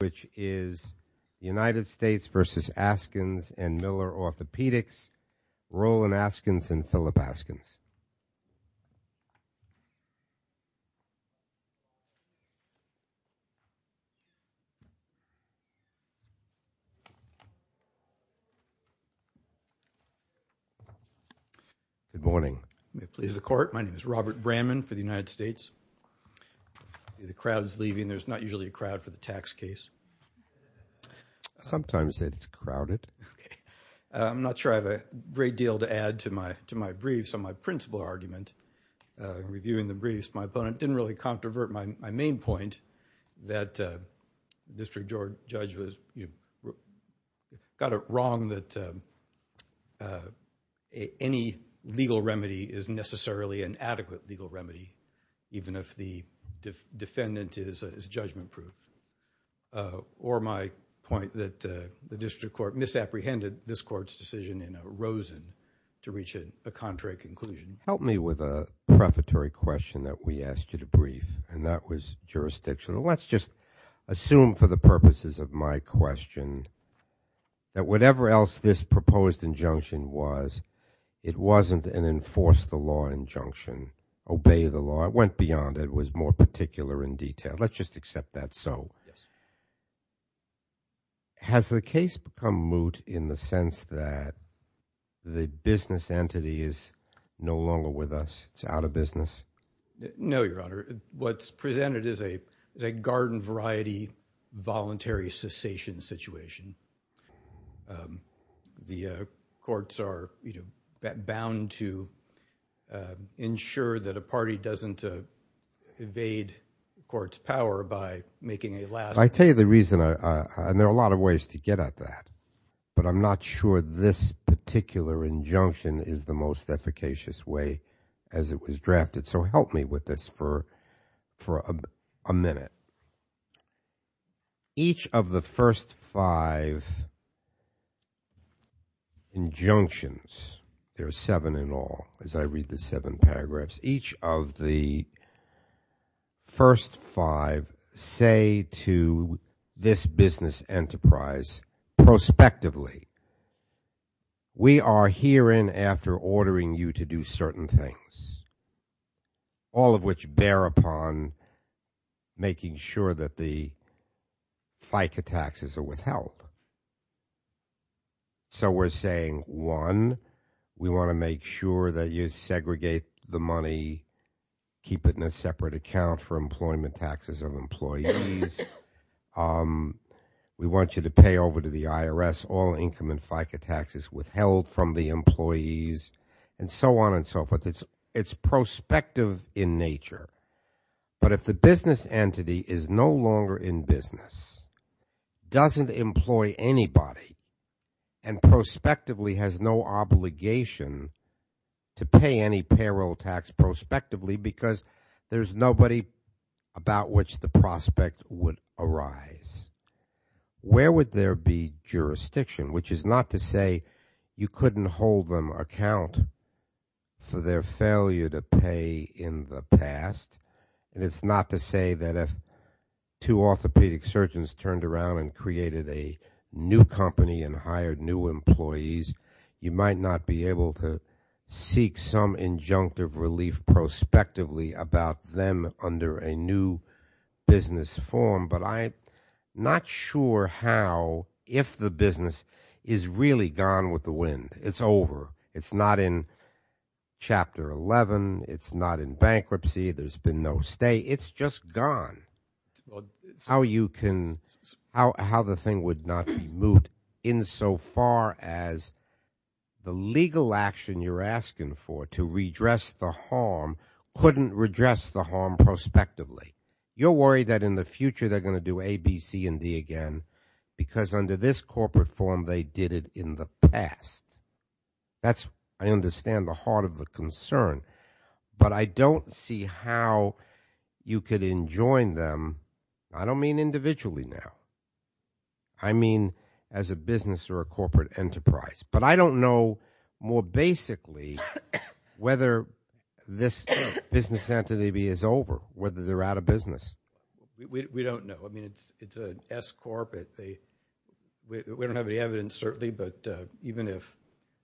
which is United States v. Askins & Miller Orthopaedics, Roland Askins & Philip Askins. Good morning. May it please the Court, my name is Robert Bramman for the United States. The crowd is leaving. There's not usually a crowd for the tax case. Sometimes it's crowded. I'm not sure I have a great deal to add to my briefs on my principal argument. In reviewing the briefs, my opponent didn't really controvert my main point that District Judge got it wrong that any legal remedy is necessarily an adequate legal remedy, even if the defendant is judgment-proof. Or my point that the District Court misapprehended this Court's decision in Rosen to reach a contrary conclusion. Help me with a prefatory question that we asked you to brief, and that was jurisdictional. Let's just assume for the purposes of my question that whatever else this proposed injunction was, it wasn't an enforce the law injunction, obey the law. It went beyond. It was more particular in detail. Let's just accept that so. Yes. Has the case become moot in the sense that the business entity is no longer with us? It's out of business? No, Your Honor. What's presented is a garden variety voluntary cessation situation. The courts are bound to ensure that a party doesn't evade the court's power by making a last… I tell you the reason, and there are a lot of ways to get at that, but I'm not sure this particular injunction is the most efficacious way as it was drafted. So help me with this for a minute. Each of the first five injunctions, there are seven in all as I read the seven paragraphs, each of the first five say to this business enterprise prospectively, we are herein after ordering you to do certain things, all of which bear upon making sure that the FICA taxes are withheld. So we're saying, one, we want to make sure that you segregate the money, keep it in a separate account for employment taxes of employees. We want you to pay over to the IRS all income and FICA taxes withheld from the employees, and so on and so forth. It's prospective in nature. But if the business entity is no longer in business, doesn't employ anybody, and prospectively has no obligation to pay any payroll tax prospectively because there's nobody about which the prospect would arise, where would there be jurisdiction? Which is not to say you couldn't hold them account for their failure to pay in the past. And it's not to say that if two orthopedic surgeons turned around and created a new company and hired new employees, you might not be able to seek some injunctive relief prospectively about them under a new business form. But I'm not sure how, if the business is really gone with the wind. It's over. It's not in Chapter 11. It's not in bankruptcy. There's been no stay. It's just gone. How you can, how the thing would not be moved in so far as the legal action you're asking for to redress the harm couldn't redress the harm prospectively. You're worried that in the future they're going to do A, B, C, and D again because under this corporate form they did it in the past. That's, I understand, the heart of the concern. But I don't see how you could enjoin them. I don't mean individually now. I mean as a business or a corporate enterprise. But I don't know more basically whether this business entity is over, whether they're out of business. We don't know. I mean it's an S corporate. We don't have any evidence certainly, but even if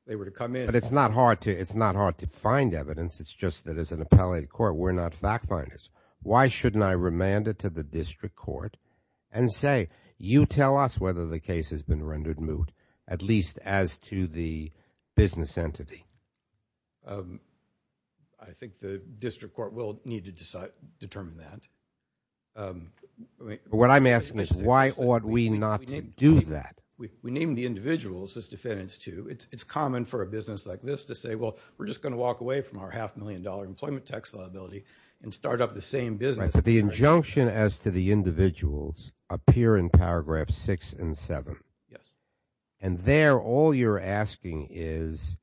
they were to come in. But it's not hard to find evidence. It's just that as an appellate court we're not fact finders. Why shouldn't I remand it to the district court and say, you tell us whether the case has been rendered moot, at least as to the business entity? I think the district court will need to determine that. What I'm asking is why ought we not to do that? We named the individuals as defendants too. It's common for a business like this to say, well we're just going to walk away from our half million dollar employment tax liability and start up the same business. But the injunction as to the individuals appear in paragraph six and seven. Yes. And there all you're asking is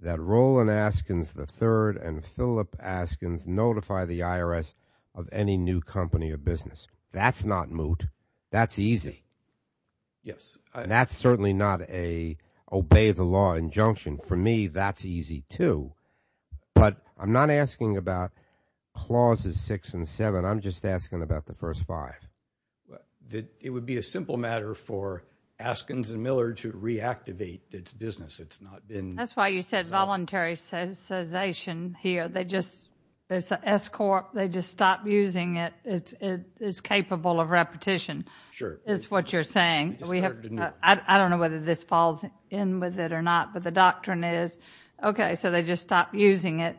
that Roland Askins III and Philip Askins notify the IRS of any new company or business. That's not moot. That's easy. Yes. And that's certainly not an obey the law injunction. For me that's easy too. But I'm not asking about clauses six and seven. I'm just asking about the first five. It would be a simple matter for Askins and Miller to reactivate its business. It's not been. That's why you said voluntary cessation here. It's an S corp. They just stopped using it. It's capable of repetition. Sure. Is what you're saying. I don't know whether this falls in with it or not. But the doctrine is, okay, so they just stopped using it.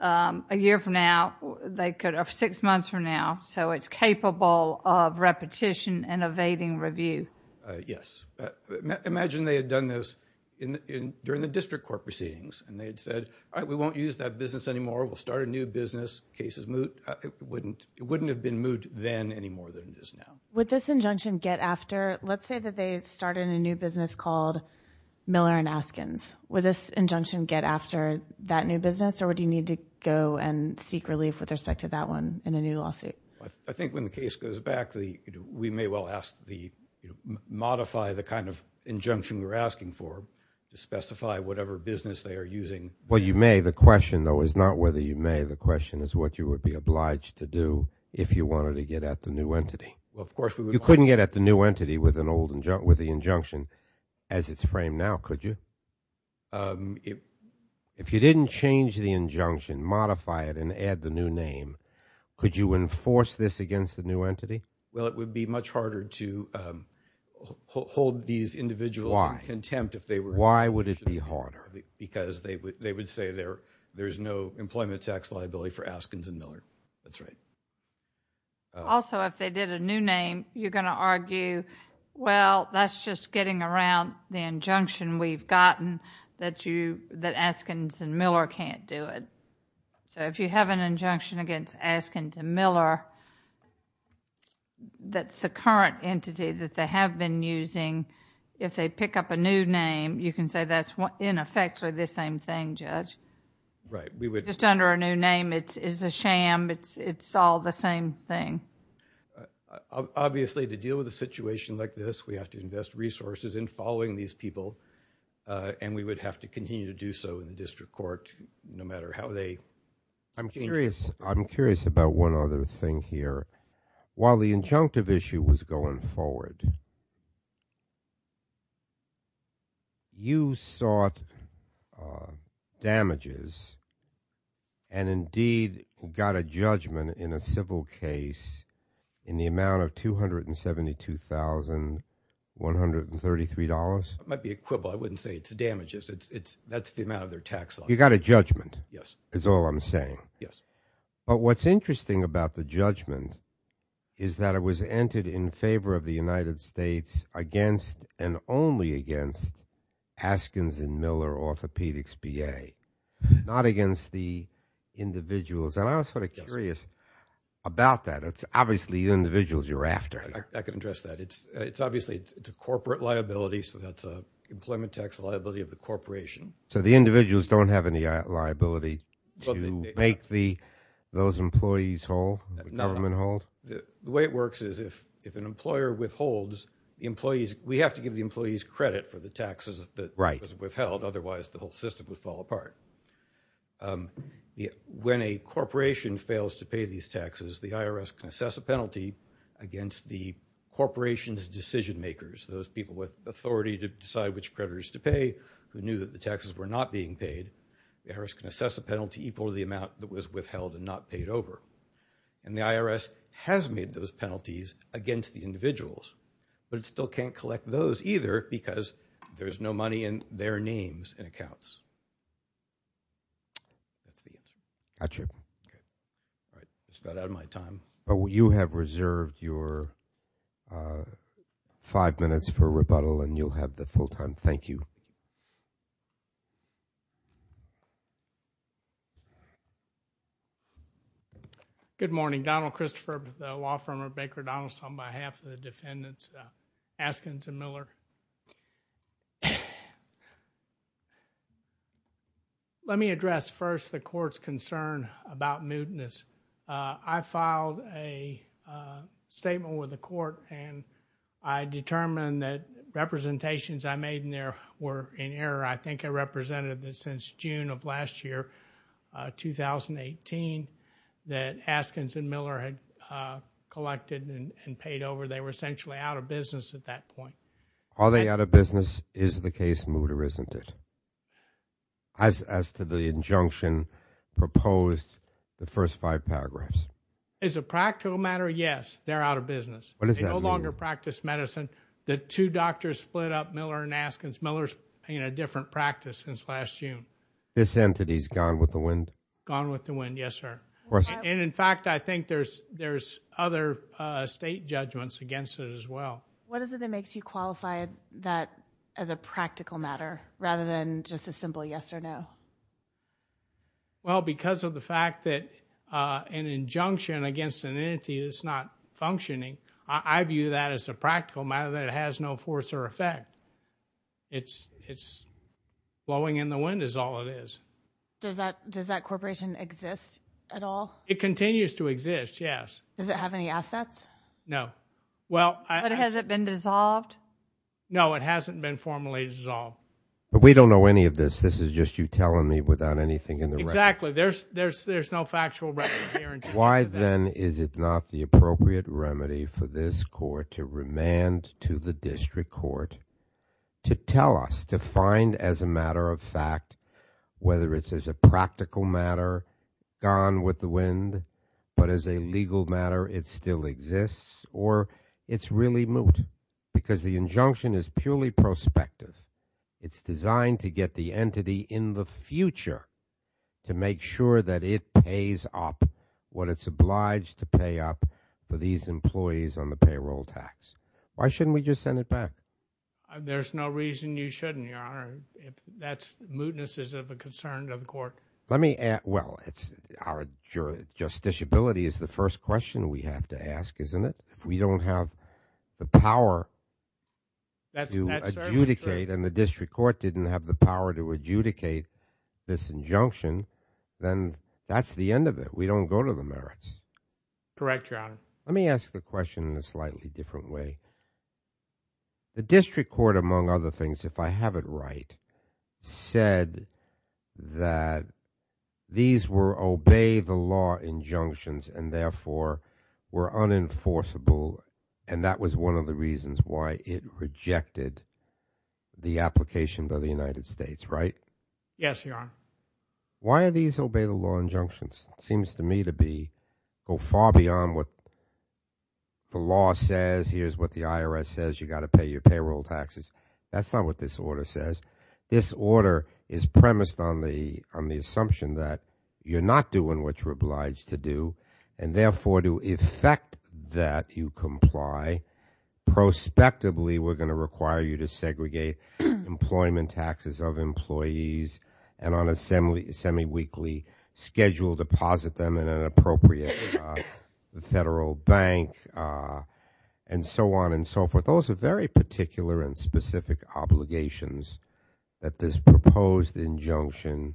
A year from now, six months from now, so it's capable of repetition and evading review. Yes. Imagine they had done this during the district court proceedings and they had said, all right, we won't use that business anymore. We'll start a new business. Case is moot. It wouldn't have been moot then any more than it is now. Would this injunction get after? Let's say that they started a new business called Miller and Askins. Would this injunction get after that new business or would you need to go and seek relief with respect to that one in a new lawsuit? I think when the case goes back, we may well modify the kind of injunction we're asking for to specify whatever business they are using. Well, you may. The question, though, is not whether you may. The question is what you would be obliged to do if you wanted to get at the new entity. You couldn't get at the new entity with the injunction as it's framed now, could you? If you didn't change the injunction, modify it, and add the new name, could you enforce this against the new entity? Well, it would be much harder to hold these individuals in contempt. Why? Why would it be harder? Because they would say there's no employment tax liability for Askins and Miller. That's right. Also, if they did a new name, you're going to argue, well, that's just getting around the injunction we've gotten that Askins and Miller can't do it. If you have an injunction against Askins and Miller, that's the current entity that they have been using. If they pick up a new name, you can say that's in effect the same thing, Judge. Right. Just under a new name, it's a sham. It's all the same thing. Obviously, to deal with a situation like this, we have to invest resources in following these people, and we would have to continue to do so in the district court no matter how they change it. I'm curious about one other thing here. While the injunctive issue was going forward, you sought damages and, indeed, got a judgment in a civil case in the amount of $272,133. It might be equivalent. I wouldn't say it's damages. That's the amount of their tax liability. You got a judgment. Yes. That's all I'm saying. Yes. But what's interesting about the judgment is that it was entered in favor of the United States against and only against Askins and Miller Orthopedics B.A., not against the individuals. And I was sort of curious about that. It's obviously the individuals you're after. I can address that. It's obviously a corporate liability, so that's an employment tax liability of the corporation. So the individuals don't have any liability to make those employees hold, the government hold? No. The way it works is if an employer withholds, we have to give the employees credit for the taxes that was withheld. Right. Otherwise, the whole system would fall apart. When a corporation fails to pay these taxes, the IRS can assess a penalty against the corporation's decision makers, those people with authority to decide which creditors to pay who knew that the taxes were not being paid. The IRS can assess a penalty equal to the amount that was withheld and not paid over. And the IRS has made those penalties against the individuals, but it still can't collect those either because there's no money in their names and accounts. That's the answer. Got you. All right. I just got out of my time. Well, you have reserved your five minutes for rebuttal, and you'll have the full time. Thank you. Good morning. Donald Christopher with the law firm of Baker & Donaldson on behalf of the defendants Askins and Miller. Let me address first the court's concern about mootness. I filed a statement with the court, and I determined that representations I made in there were in error. I think I represented that since June of last year, 2018, that Askins and Miller had collected and paid over. They were essentially out of business at that point. Are they out of business? Is the case moot or isn't it? As to the injunction proposed, the first five paragraphs. Is it a practical matter? Yes. They're out of business. What does that mean? They no longer practice medicine. The two doctors split up, Miller and Askins. Miller's in a different practice since last June. This entity's gone with the wind? Gone with the wind, yes, sir. And, in fact, I think there's other state judgments against it as well. What is it that makes you qualify that as a practical matter rather than just a simple yes or no? Well, because of the fact that an injunction against an entity that's not functioning, I view that as a practical matter, that it has no force or effect. It's blowing in the wind is all it is. Does that corporation exist at all? It continues to exist, yes. Does it have any assets? No. But has it been dissolved? No, it hasn't been formally dissolved. But we don't know any of this. This is just you telling me without anything in the record. Exactly. There's no factual record here in terms of that. Why, then, is it not the appropriate remedy for this court to remand to the district court to tell us, to find as a matter of fact, whether it's as a practical matter, gone with the wind, but as a legal matter, it still exists, or it's really moot? Because the injunction is purely prospective. It's designed to get the entity in the future to make sure that it pays up what it's obliged to pay up for these employees on the payroll tax. Why shouldn't we just send it back? There's no reason you shouldn't, Your Honor. That mootness is of a concern to the court. Well, our justiciability is the first question we have to ask, isn't it? If we don't have the power to adjudicate, and the district court didn't have the power to adjudicate this injunction, then that's the end of it. We don't go to the merits. Correct, Your Honor. Let me ask the question in a slightly different way. The district court, among other things, if I have it right, said that these were obey-the-law injunctions and therefore were unenforceable, and that was one of the reasons why it rejected the application by the United States, right? Yes, Your Honor. Why are these obey-the-law injunctions? It seems to me to go far beyond what the law says. Here's what the IRS says. You've got to pay your payroll taxes. That's not what this order says. This order is premised on the assumption that you're not doing what you're obliged to do, and therefore to effect that you comply, prospectively we're going to require you to segregate employment taxes of employees and on a semi-weekly schedule deposit them in an appropriate federal bank and so on and so forth. Those are very particular and specific obligations that this proposed injunction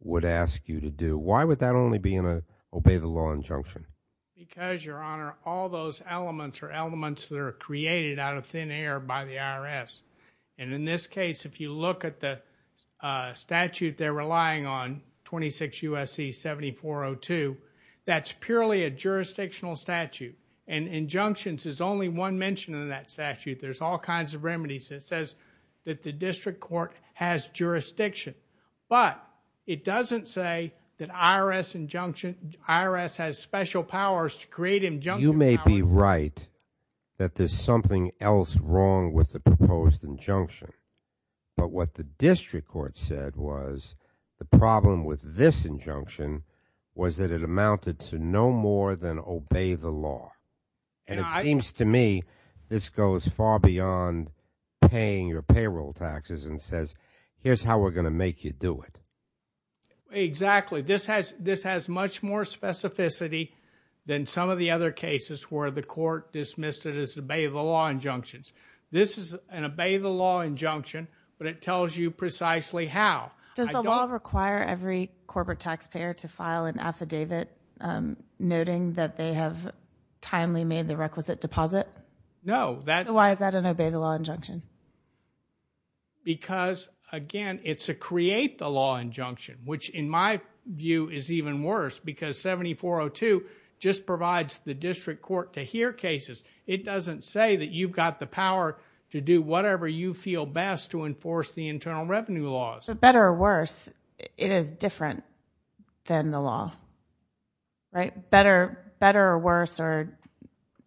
would ask you to do. Why would that only be in an obey-the-law injunction? Because, Your Honor, all those elements are elements that are created out of thin air by the IRS. And in this case, if you look at the statute they're relying on, 26 U.S.C. 7402, that's purely a jurisdictional statute, and injunctions is only one mention in that statute. There's all kinds of remedies. It says that the district court has jurisdiction, but it doesn't say that IRS has special powers to create injunction powers. It may be right that there's something else wrong with the proposed injunction, but what the district court said was the problem with this injunction was that it amounted to no more than obey the law. And it seems to me this goes far beyond paying your payroll taxes and says, here's how we're going to make you do it. Exactly. This has much more specificity than some of the other cases where the court dismissed it as obey-the-law injunctions. This is an obey-the-law injunction, but it tells you precisely how. Does the law require every corporate taxpayer to file an affidavit noting that they have timely made the requisite deposit? No. Why is that an obey-the-law injunction? Because, again, it's a create-the-law injunction, which in my view is even worse, because 7402 just provides the district court to hear cases. It doesn't say that you've got the power to do whatever you feel best to enforce the internal revenue laws. But better or worse, it is different than the law, right? Better or worse or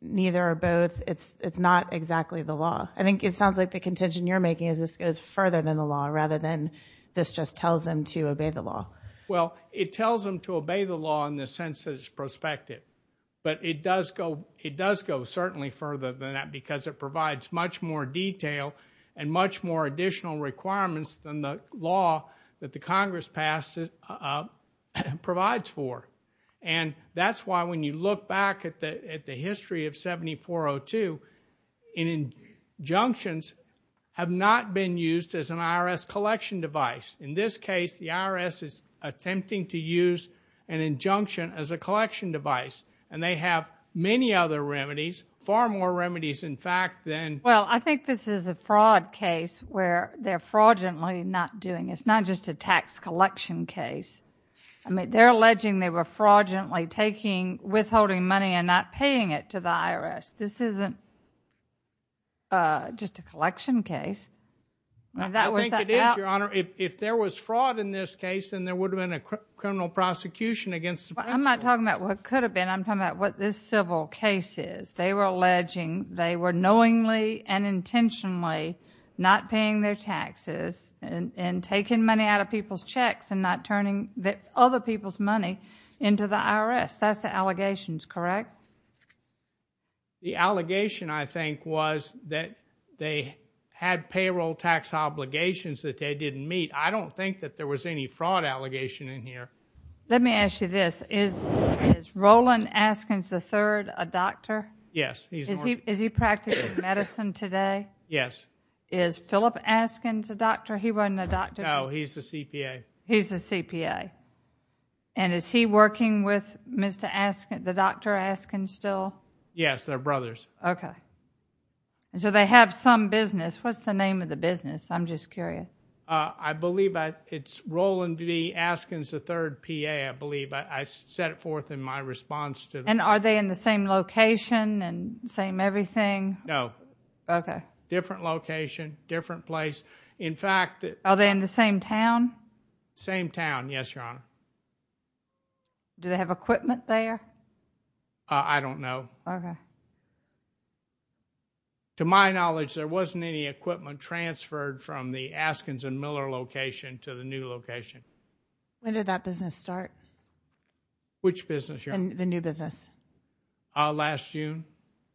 neither or both, it's not exactly the law. I think it sounds like the contention you're making is this goes further than the law rather than this just tells them to obey the law. Well, it tells them to obey the law in the sense that it's prospective, but it does go certainly further than that because it provides much more detail and much more additional requirements than the law that the Congress provides for. And that's why when you look back at the history of 7402, injunctions have not been used as an IRS collection device. In this case, the IRS is attempting to use an injunction as a collection device, and they have many other remedies, far more remedies, in fact, than— Well, I think this is a fraud case where they're fraudulently not doing—it's not just a tax collection case. I mean, they're alleging they were fraudulently withholding money and not paying it to the IRS. This isn't just a collection case. I think it is, Your Honor. If there was fraud in this case, then there would have been a criminal prosecution against the principal. I'm not talking about what could have been. I'm talking about what this civil case is. They were alleging they were knowingly and intentionally not paying their taxes and taking money out of people's checks and not turning other people's money into the IRS. That's the allegations, correct? The allegation, I think, was that they had payroll tax obligations that they didn't meet. I don't think that there was any fraud allegation in here. Let me ask you this. Is Roland Askins III a doctor? Yes. Is he practicing medicine today? Yes. Is Philip Askins a doctor? He wasn't a doctor. No, he's a CPA. He's a CPA. And is he working with Mr. Askins, the Dr. Askins, still? Yes, they're brothers. Okay. So they have some business. What's the name of the business? I'm just curious. I believe it's Roland B. Askins III, P.A., I believe. I set it forth in my response to the— And are they in the same location and same everything? No. Okay. Different location, different place. In fact— Are they in the same town? Same town, yes, Your Honor. Do they have equipment there? I don't know. Okay. To my knowledge, there wasn't any equipment transferred from the Askins and Miller location to the new location. When did that business start? Which business, Your Honor? The new business. Last June,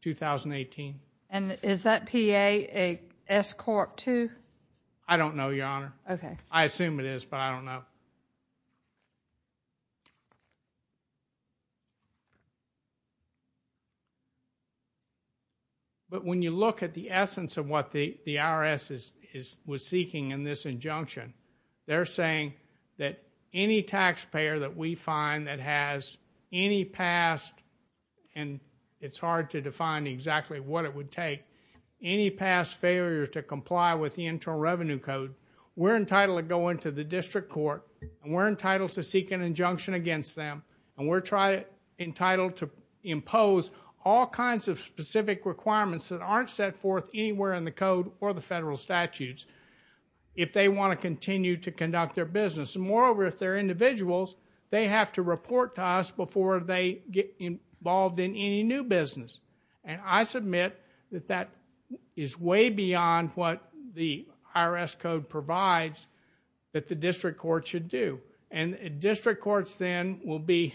2018. And is that P.A. a S-Corp II? I don't know, Your Honor. Okay. I assume it is, but I don't know. But when you look at the essence of what the IRS was seeking in this injunction, they're saying that any taxpayer that we find that has any past— and it's hard to define exactly what it would take— any past failure to comply with the Internal Revenue Code, we're entitled to go into the district court, and we're entitled to seek an injunction against them, and we're entitled to impose all kinds of specific requirements that aren't set forth anywhere in the code or the federal statutes. If they want to continue to conduct their business. And moreover, if they're individuals, they have to report to us before they get involved in any new business. And I submit that that is way beyond what the IRS code provides that the district court should do. And district courts then will be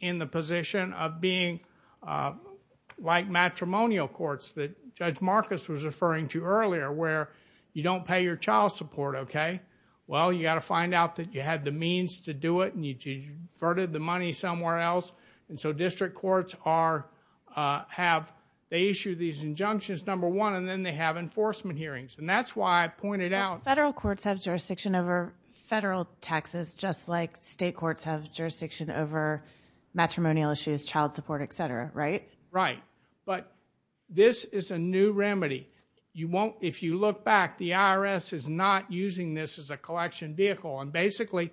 in the position of being like matrimonial courts that Judge Marcus was referring to earlier, where you don't pay your child support, okay? Well, you got to find out that you had the means to do it, and you diverted the money somewhere else. And so district courts have—they issue these injunctions, number one, and then they have enforcement hearings. And that's why I pointed out— Federal courts have jurisdiction over federal taxes, just like state courts have jurisdiction over matrimonial issues, child support, et cetera, right? Right. But this is a new remedy. If you look back, the IRS is not using this as a collection vehicle. And basically,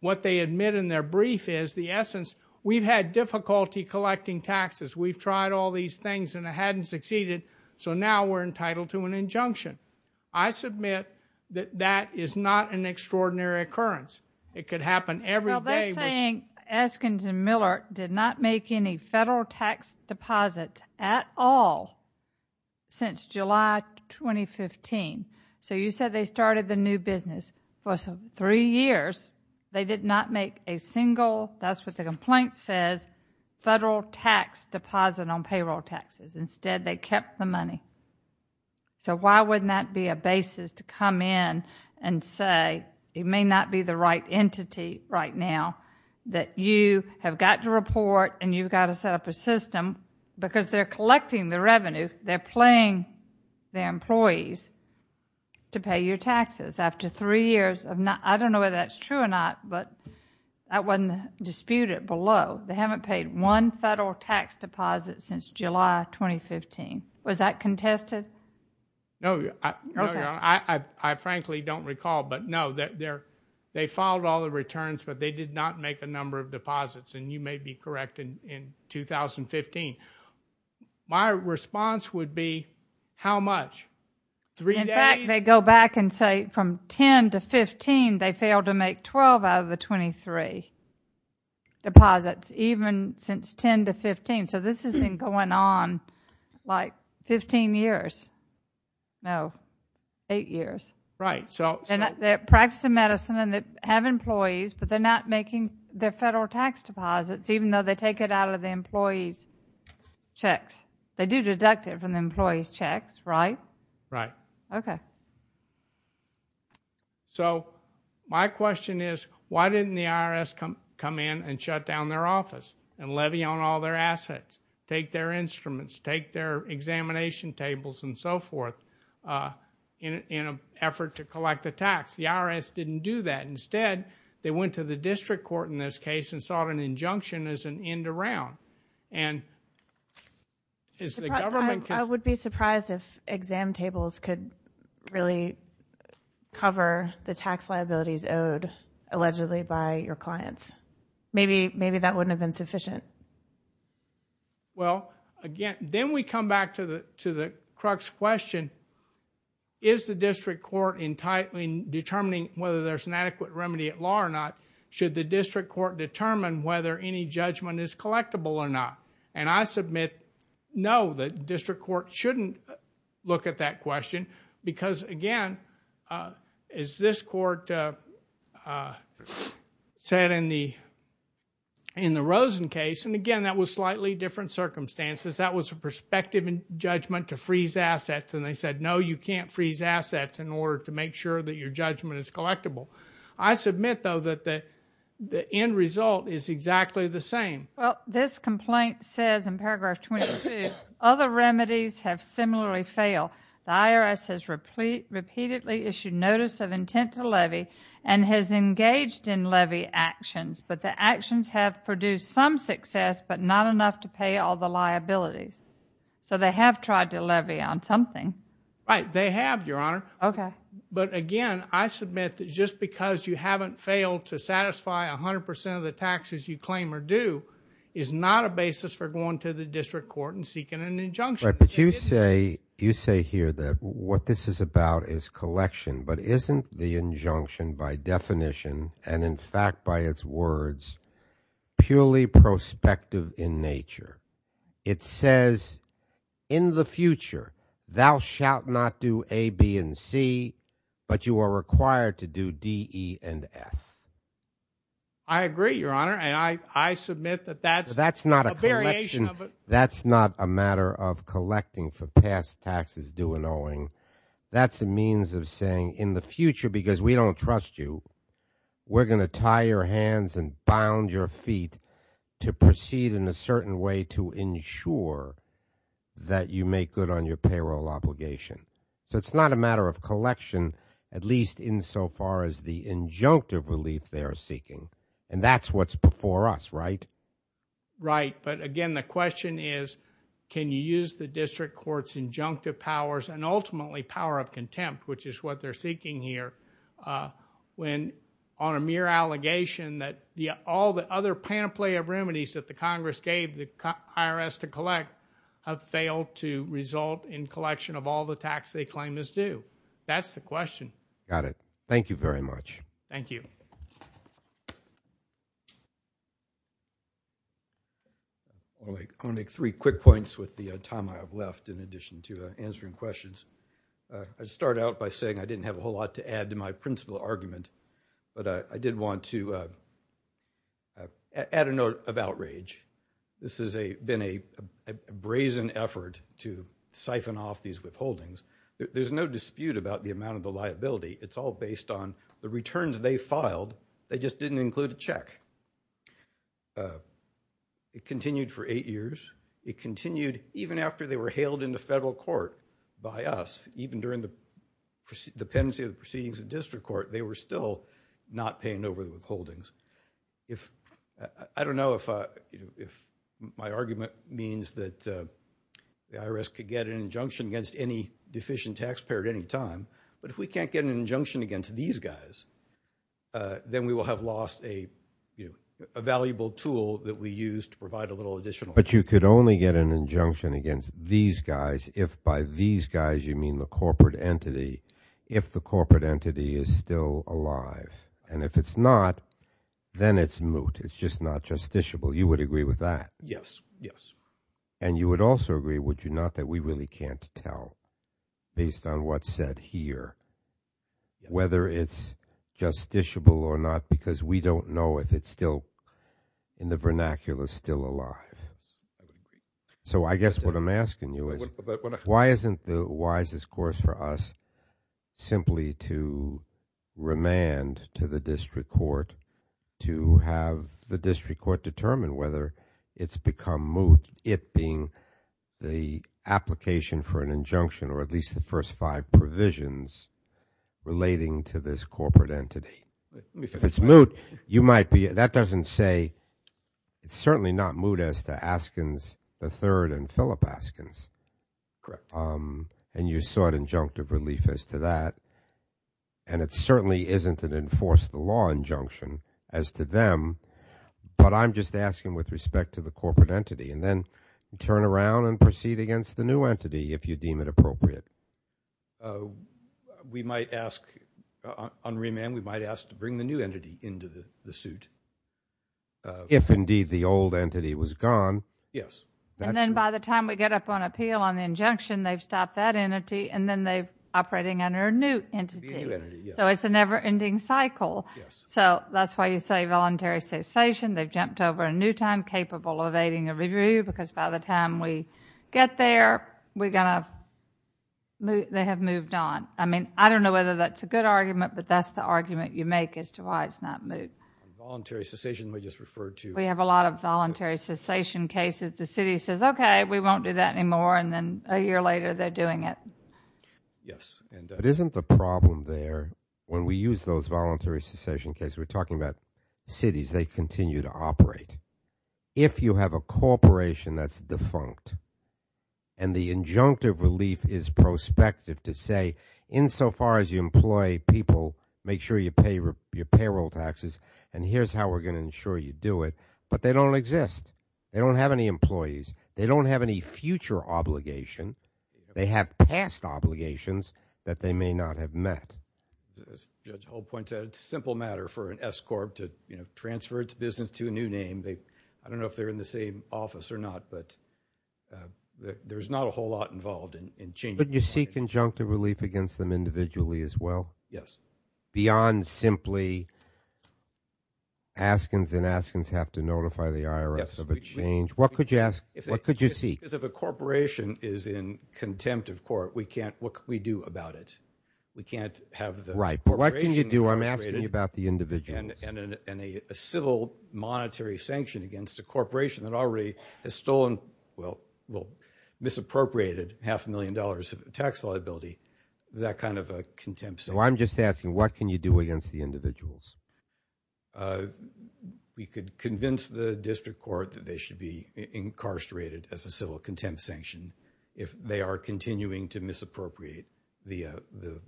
what they admit in their brief is the essence, we've had difficulty collecting taxes, we've tried all these things and it hadn't succeeded, so now we're entitled to an injunction. I submit that that is not an extraordinary occurrence. It could happen every day. Well, they're saying Eskinson Miller did not make any federal tax deposits at all since July 2015. So you said they started the new business. For three years, they did not make a single—that's what the complaint says— federal tax deposit on payroll taxes. Instead, they kept the money. So why wouldn't that be a basis to come in and say, it may not be the right entity right now that you have got to report and you've got to set up a system because they're collecting the revenue, they're paying their employees to pay your taxes. After three years of not—I don't know whether that's true or not, but that wasn't disputed below. They haven't paid one federal tax deposit since July 2015. Was that contested? No, I frankly don't recall. But, no, they filed all the returns, but they did not make a number of deposits, and you may be correct in 2015. My response would be, how much? In fact, they go back and say from 10 to 15, they failed to make 12 out of the 23 deposits, even since 10 to 15. So this has been going on like 15 years. No, eight years. Right. They're practicing medicine and they have employees, but they're not making their federal tax deposits, even though they take it out of the employees' checks. They do deduct it from the employees' checks, right? Right. Okay. So my question is, why didn't the IRS come in and shut down their office and levy on all their assets, take their instruments, take their examination tables and so forth in an effort to collect a tax? The IRS didn't do that. Instead, they went to the district court in this case and sought an injunction as an end around. I would be surprised if exam tables could really cover the tax liabilities owed allegedly by your clients. Maybe that wouldn't have been sufficient. Well, again, then we come back to the crux question. Is the district court determining whether there's an adequate remedy at law or not? Should the district court determine whether any judgment is collectible or not? I submit no, the district court shouldn't look at that question because, again, as this court said in the Rosen case, and, again, that was slightly different circumstances. That was a prospective judgment to freeze assets, and they said, no, you can't freeze assets in order to make sure that your judgment is collectible. I submit, though, that the end result is exactly the same. Well, this complaint says in paragraph 22, other remedies have similarly failed. The IRS has repeatedly issued notice of intent to levy and has engaged in levy actions, but the actions have produced some success but not enough to pay all the liabilities. So they have tried to levy on something. Right, they have, Your Honor. Okay. But, again, I submit that just because you haven't failed to satisfy 100% of the taxes you claim or do is not a basis for going to the district court and seeking an injunction. Right, but you say here that what this is about is collection, but isn't the injunction by definition and, in fact, by its words, purely prospective in nature? It says, in the future, thou shalt not do A, B, and C, but you are required to do D, E, and F. I agree, Your Honor, and I submit that that's a variation of it. Collecting for past taxes due and owing, that's a means of saying in the future, because we don't trust you, we're going to tie your hands and bound your feet to proceed in a certain way to ensure that you make good on your payroll obligation. So it's not a matter of collection, at least insofar as the injunctive relief they are seeking, and that's what's before us, right? Right, but again, the question is, can you use the district court's injunctive powers and ultimately power of contempt, which is what they're seeking here, on a mere allegation that all the other panoply of remedies that the Congress gave the IRS to collect have failed to result in collection of all the tax they claim is due? That's the question. Got it. Thank you very much. Thank you. I want to make three quick points with the time I have left in addition to answering questions. I'd start out by saying I didn't have a whole lot to add to my principal argument, but I did want to add a note of outrage. This has been a brazen effort to siphon off these withholdings. There's no dispute about the amount of the liability. It's all based on the returns they filed. They just didn't include a check. It continued for eight years. It continued even after they were hailed into federal court by us. Even during the pendency of the proceedings in district court, they were still not paying over the withholdings. I don't know if my argument means that the IRS could get an injunction against any deficient taxpayer at any time, but if we can't get an injunction against these guys, then we will have lost a valuable tool that we used to provide a little additional. But you could only get an injunction against these guys if by these guys you mean the corporate entity, if the corporate entity is still alive. And if it's not, then it's moot. It's just not justiciable. You would agree with that? Yes, yes. And you would also agree, would you not, that we really can't tell based on what's said here whether it's justiciable or not because we don't know if it's still in the vernacular still alive. So I guess what I'm asking you is why isn't the wisest course for us simply to remand to the district court to have the district court determine whether it's become moot, it being the application for an injunction or at least the first five provisions relating to this corporate entity. If it's moot, you might be, that doesn't say, it's certainly not moot as to Askins III and Philip Askins. Correct. And you sought injunctive relief as to that. And it certainly isn't an enforced law injunction as to them. But I'm just asking with respect to the corporate entity. And then turn around and proceed against the new entity if you deem it appropriate. We might ask, on remand, we might ask to bring the new entity into the suit. If, indeed, the old entity was gone. Yes. And then by the time we get up on appeal on the injunction, they've stopped that entity, and then they're operating under a new entity. The new entity, yes. So it's a never-ending cycle. So that's why you say voluntary cessation. They've jumped over a new time capable of evading a review because by the time we get there, we're going to, they have moved on. I mean, I don't know whether that's a good argument, but that's the argument you make as to why it's not moot. Voluntary cessation we just referred to. We have a lot of voluntary cessation cases. The city says, okay, we won't do that anymore, and then a year later they're doing it. Yes. But isn't the problem there, when we use those voluntary cessation cases, we're talking about cities, they continue to operate. If you have a corporation that's defunct, and the injunctive relief is prospective to say, insofar as you employ people, make sure you pay your payroll taxes, and here's how we're going to ensure you do it, but they don't exist. They don't have any employees. They don't have any future obligation. They have past obligations that they may not have met. As Judge Hope pointed out, it's a simple matter for an S-Corp to transfer its business to a new name. I don't know if they're in the same office or not, but there's not a whole lot involved in changing that. But you seek injunctive relief against them individually as well? Yes. Beyond simply Askins and Askins have to notify the IRS of a change? Yes. What could you ask? What could you seek? Because if a corporation is in contempt of court, what can we do about it? We can't have the corporation be arbitrated. Right. But what can you do? I'm asking you about the individuals. And a civil monetary sanction against a corporation that already has stolen, well, misappropriated half a million dollars of tax liability, that kind of a contempt sanction. Well, I'm just asking, what can you do against the individuals? We could convince the district court that they should be incarcerated as a civil contempt sanction if they are continuing to misappropriate the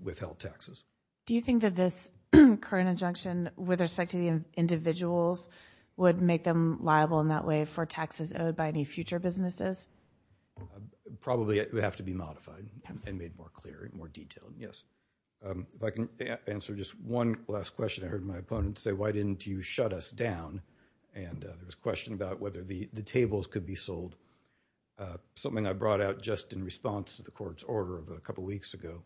withheld taxes. Do you think that this current injunction with respect to the individuals would make them liable in that way for taxes owed by any future businesses? Probably. It would have to be modified and made more clear and more detailed. Yes. If I can answer just one last question. I heard my opponent say, why didn't you shut us down? And there was a question about whether the tables could be sold, something I brought out just in response to the court's order of a couple weeks ago.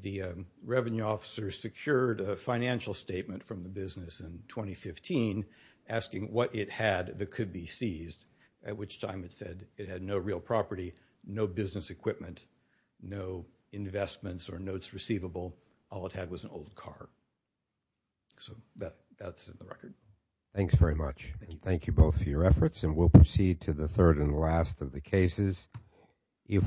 The revenue officer secured a financial statement from the business in 2015 asking what it had that could be seized, at which time it said it had no real property, no business equipment, no investments or notes receivable, all it had was an old car. So that's in the record. Thanks very much. Thank you. Thank you both for your efforts, and we'll proceed to the third and last of the cases.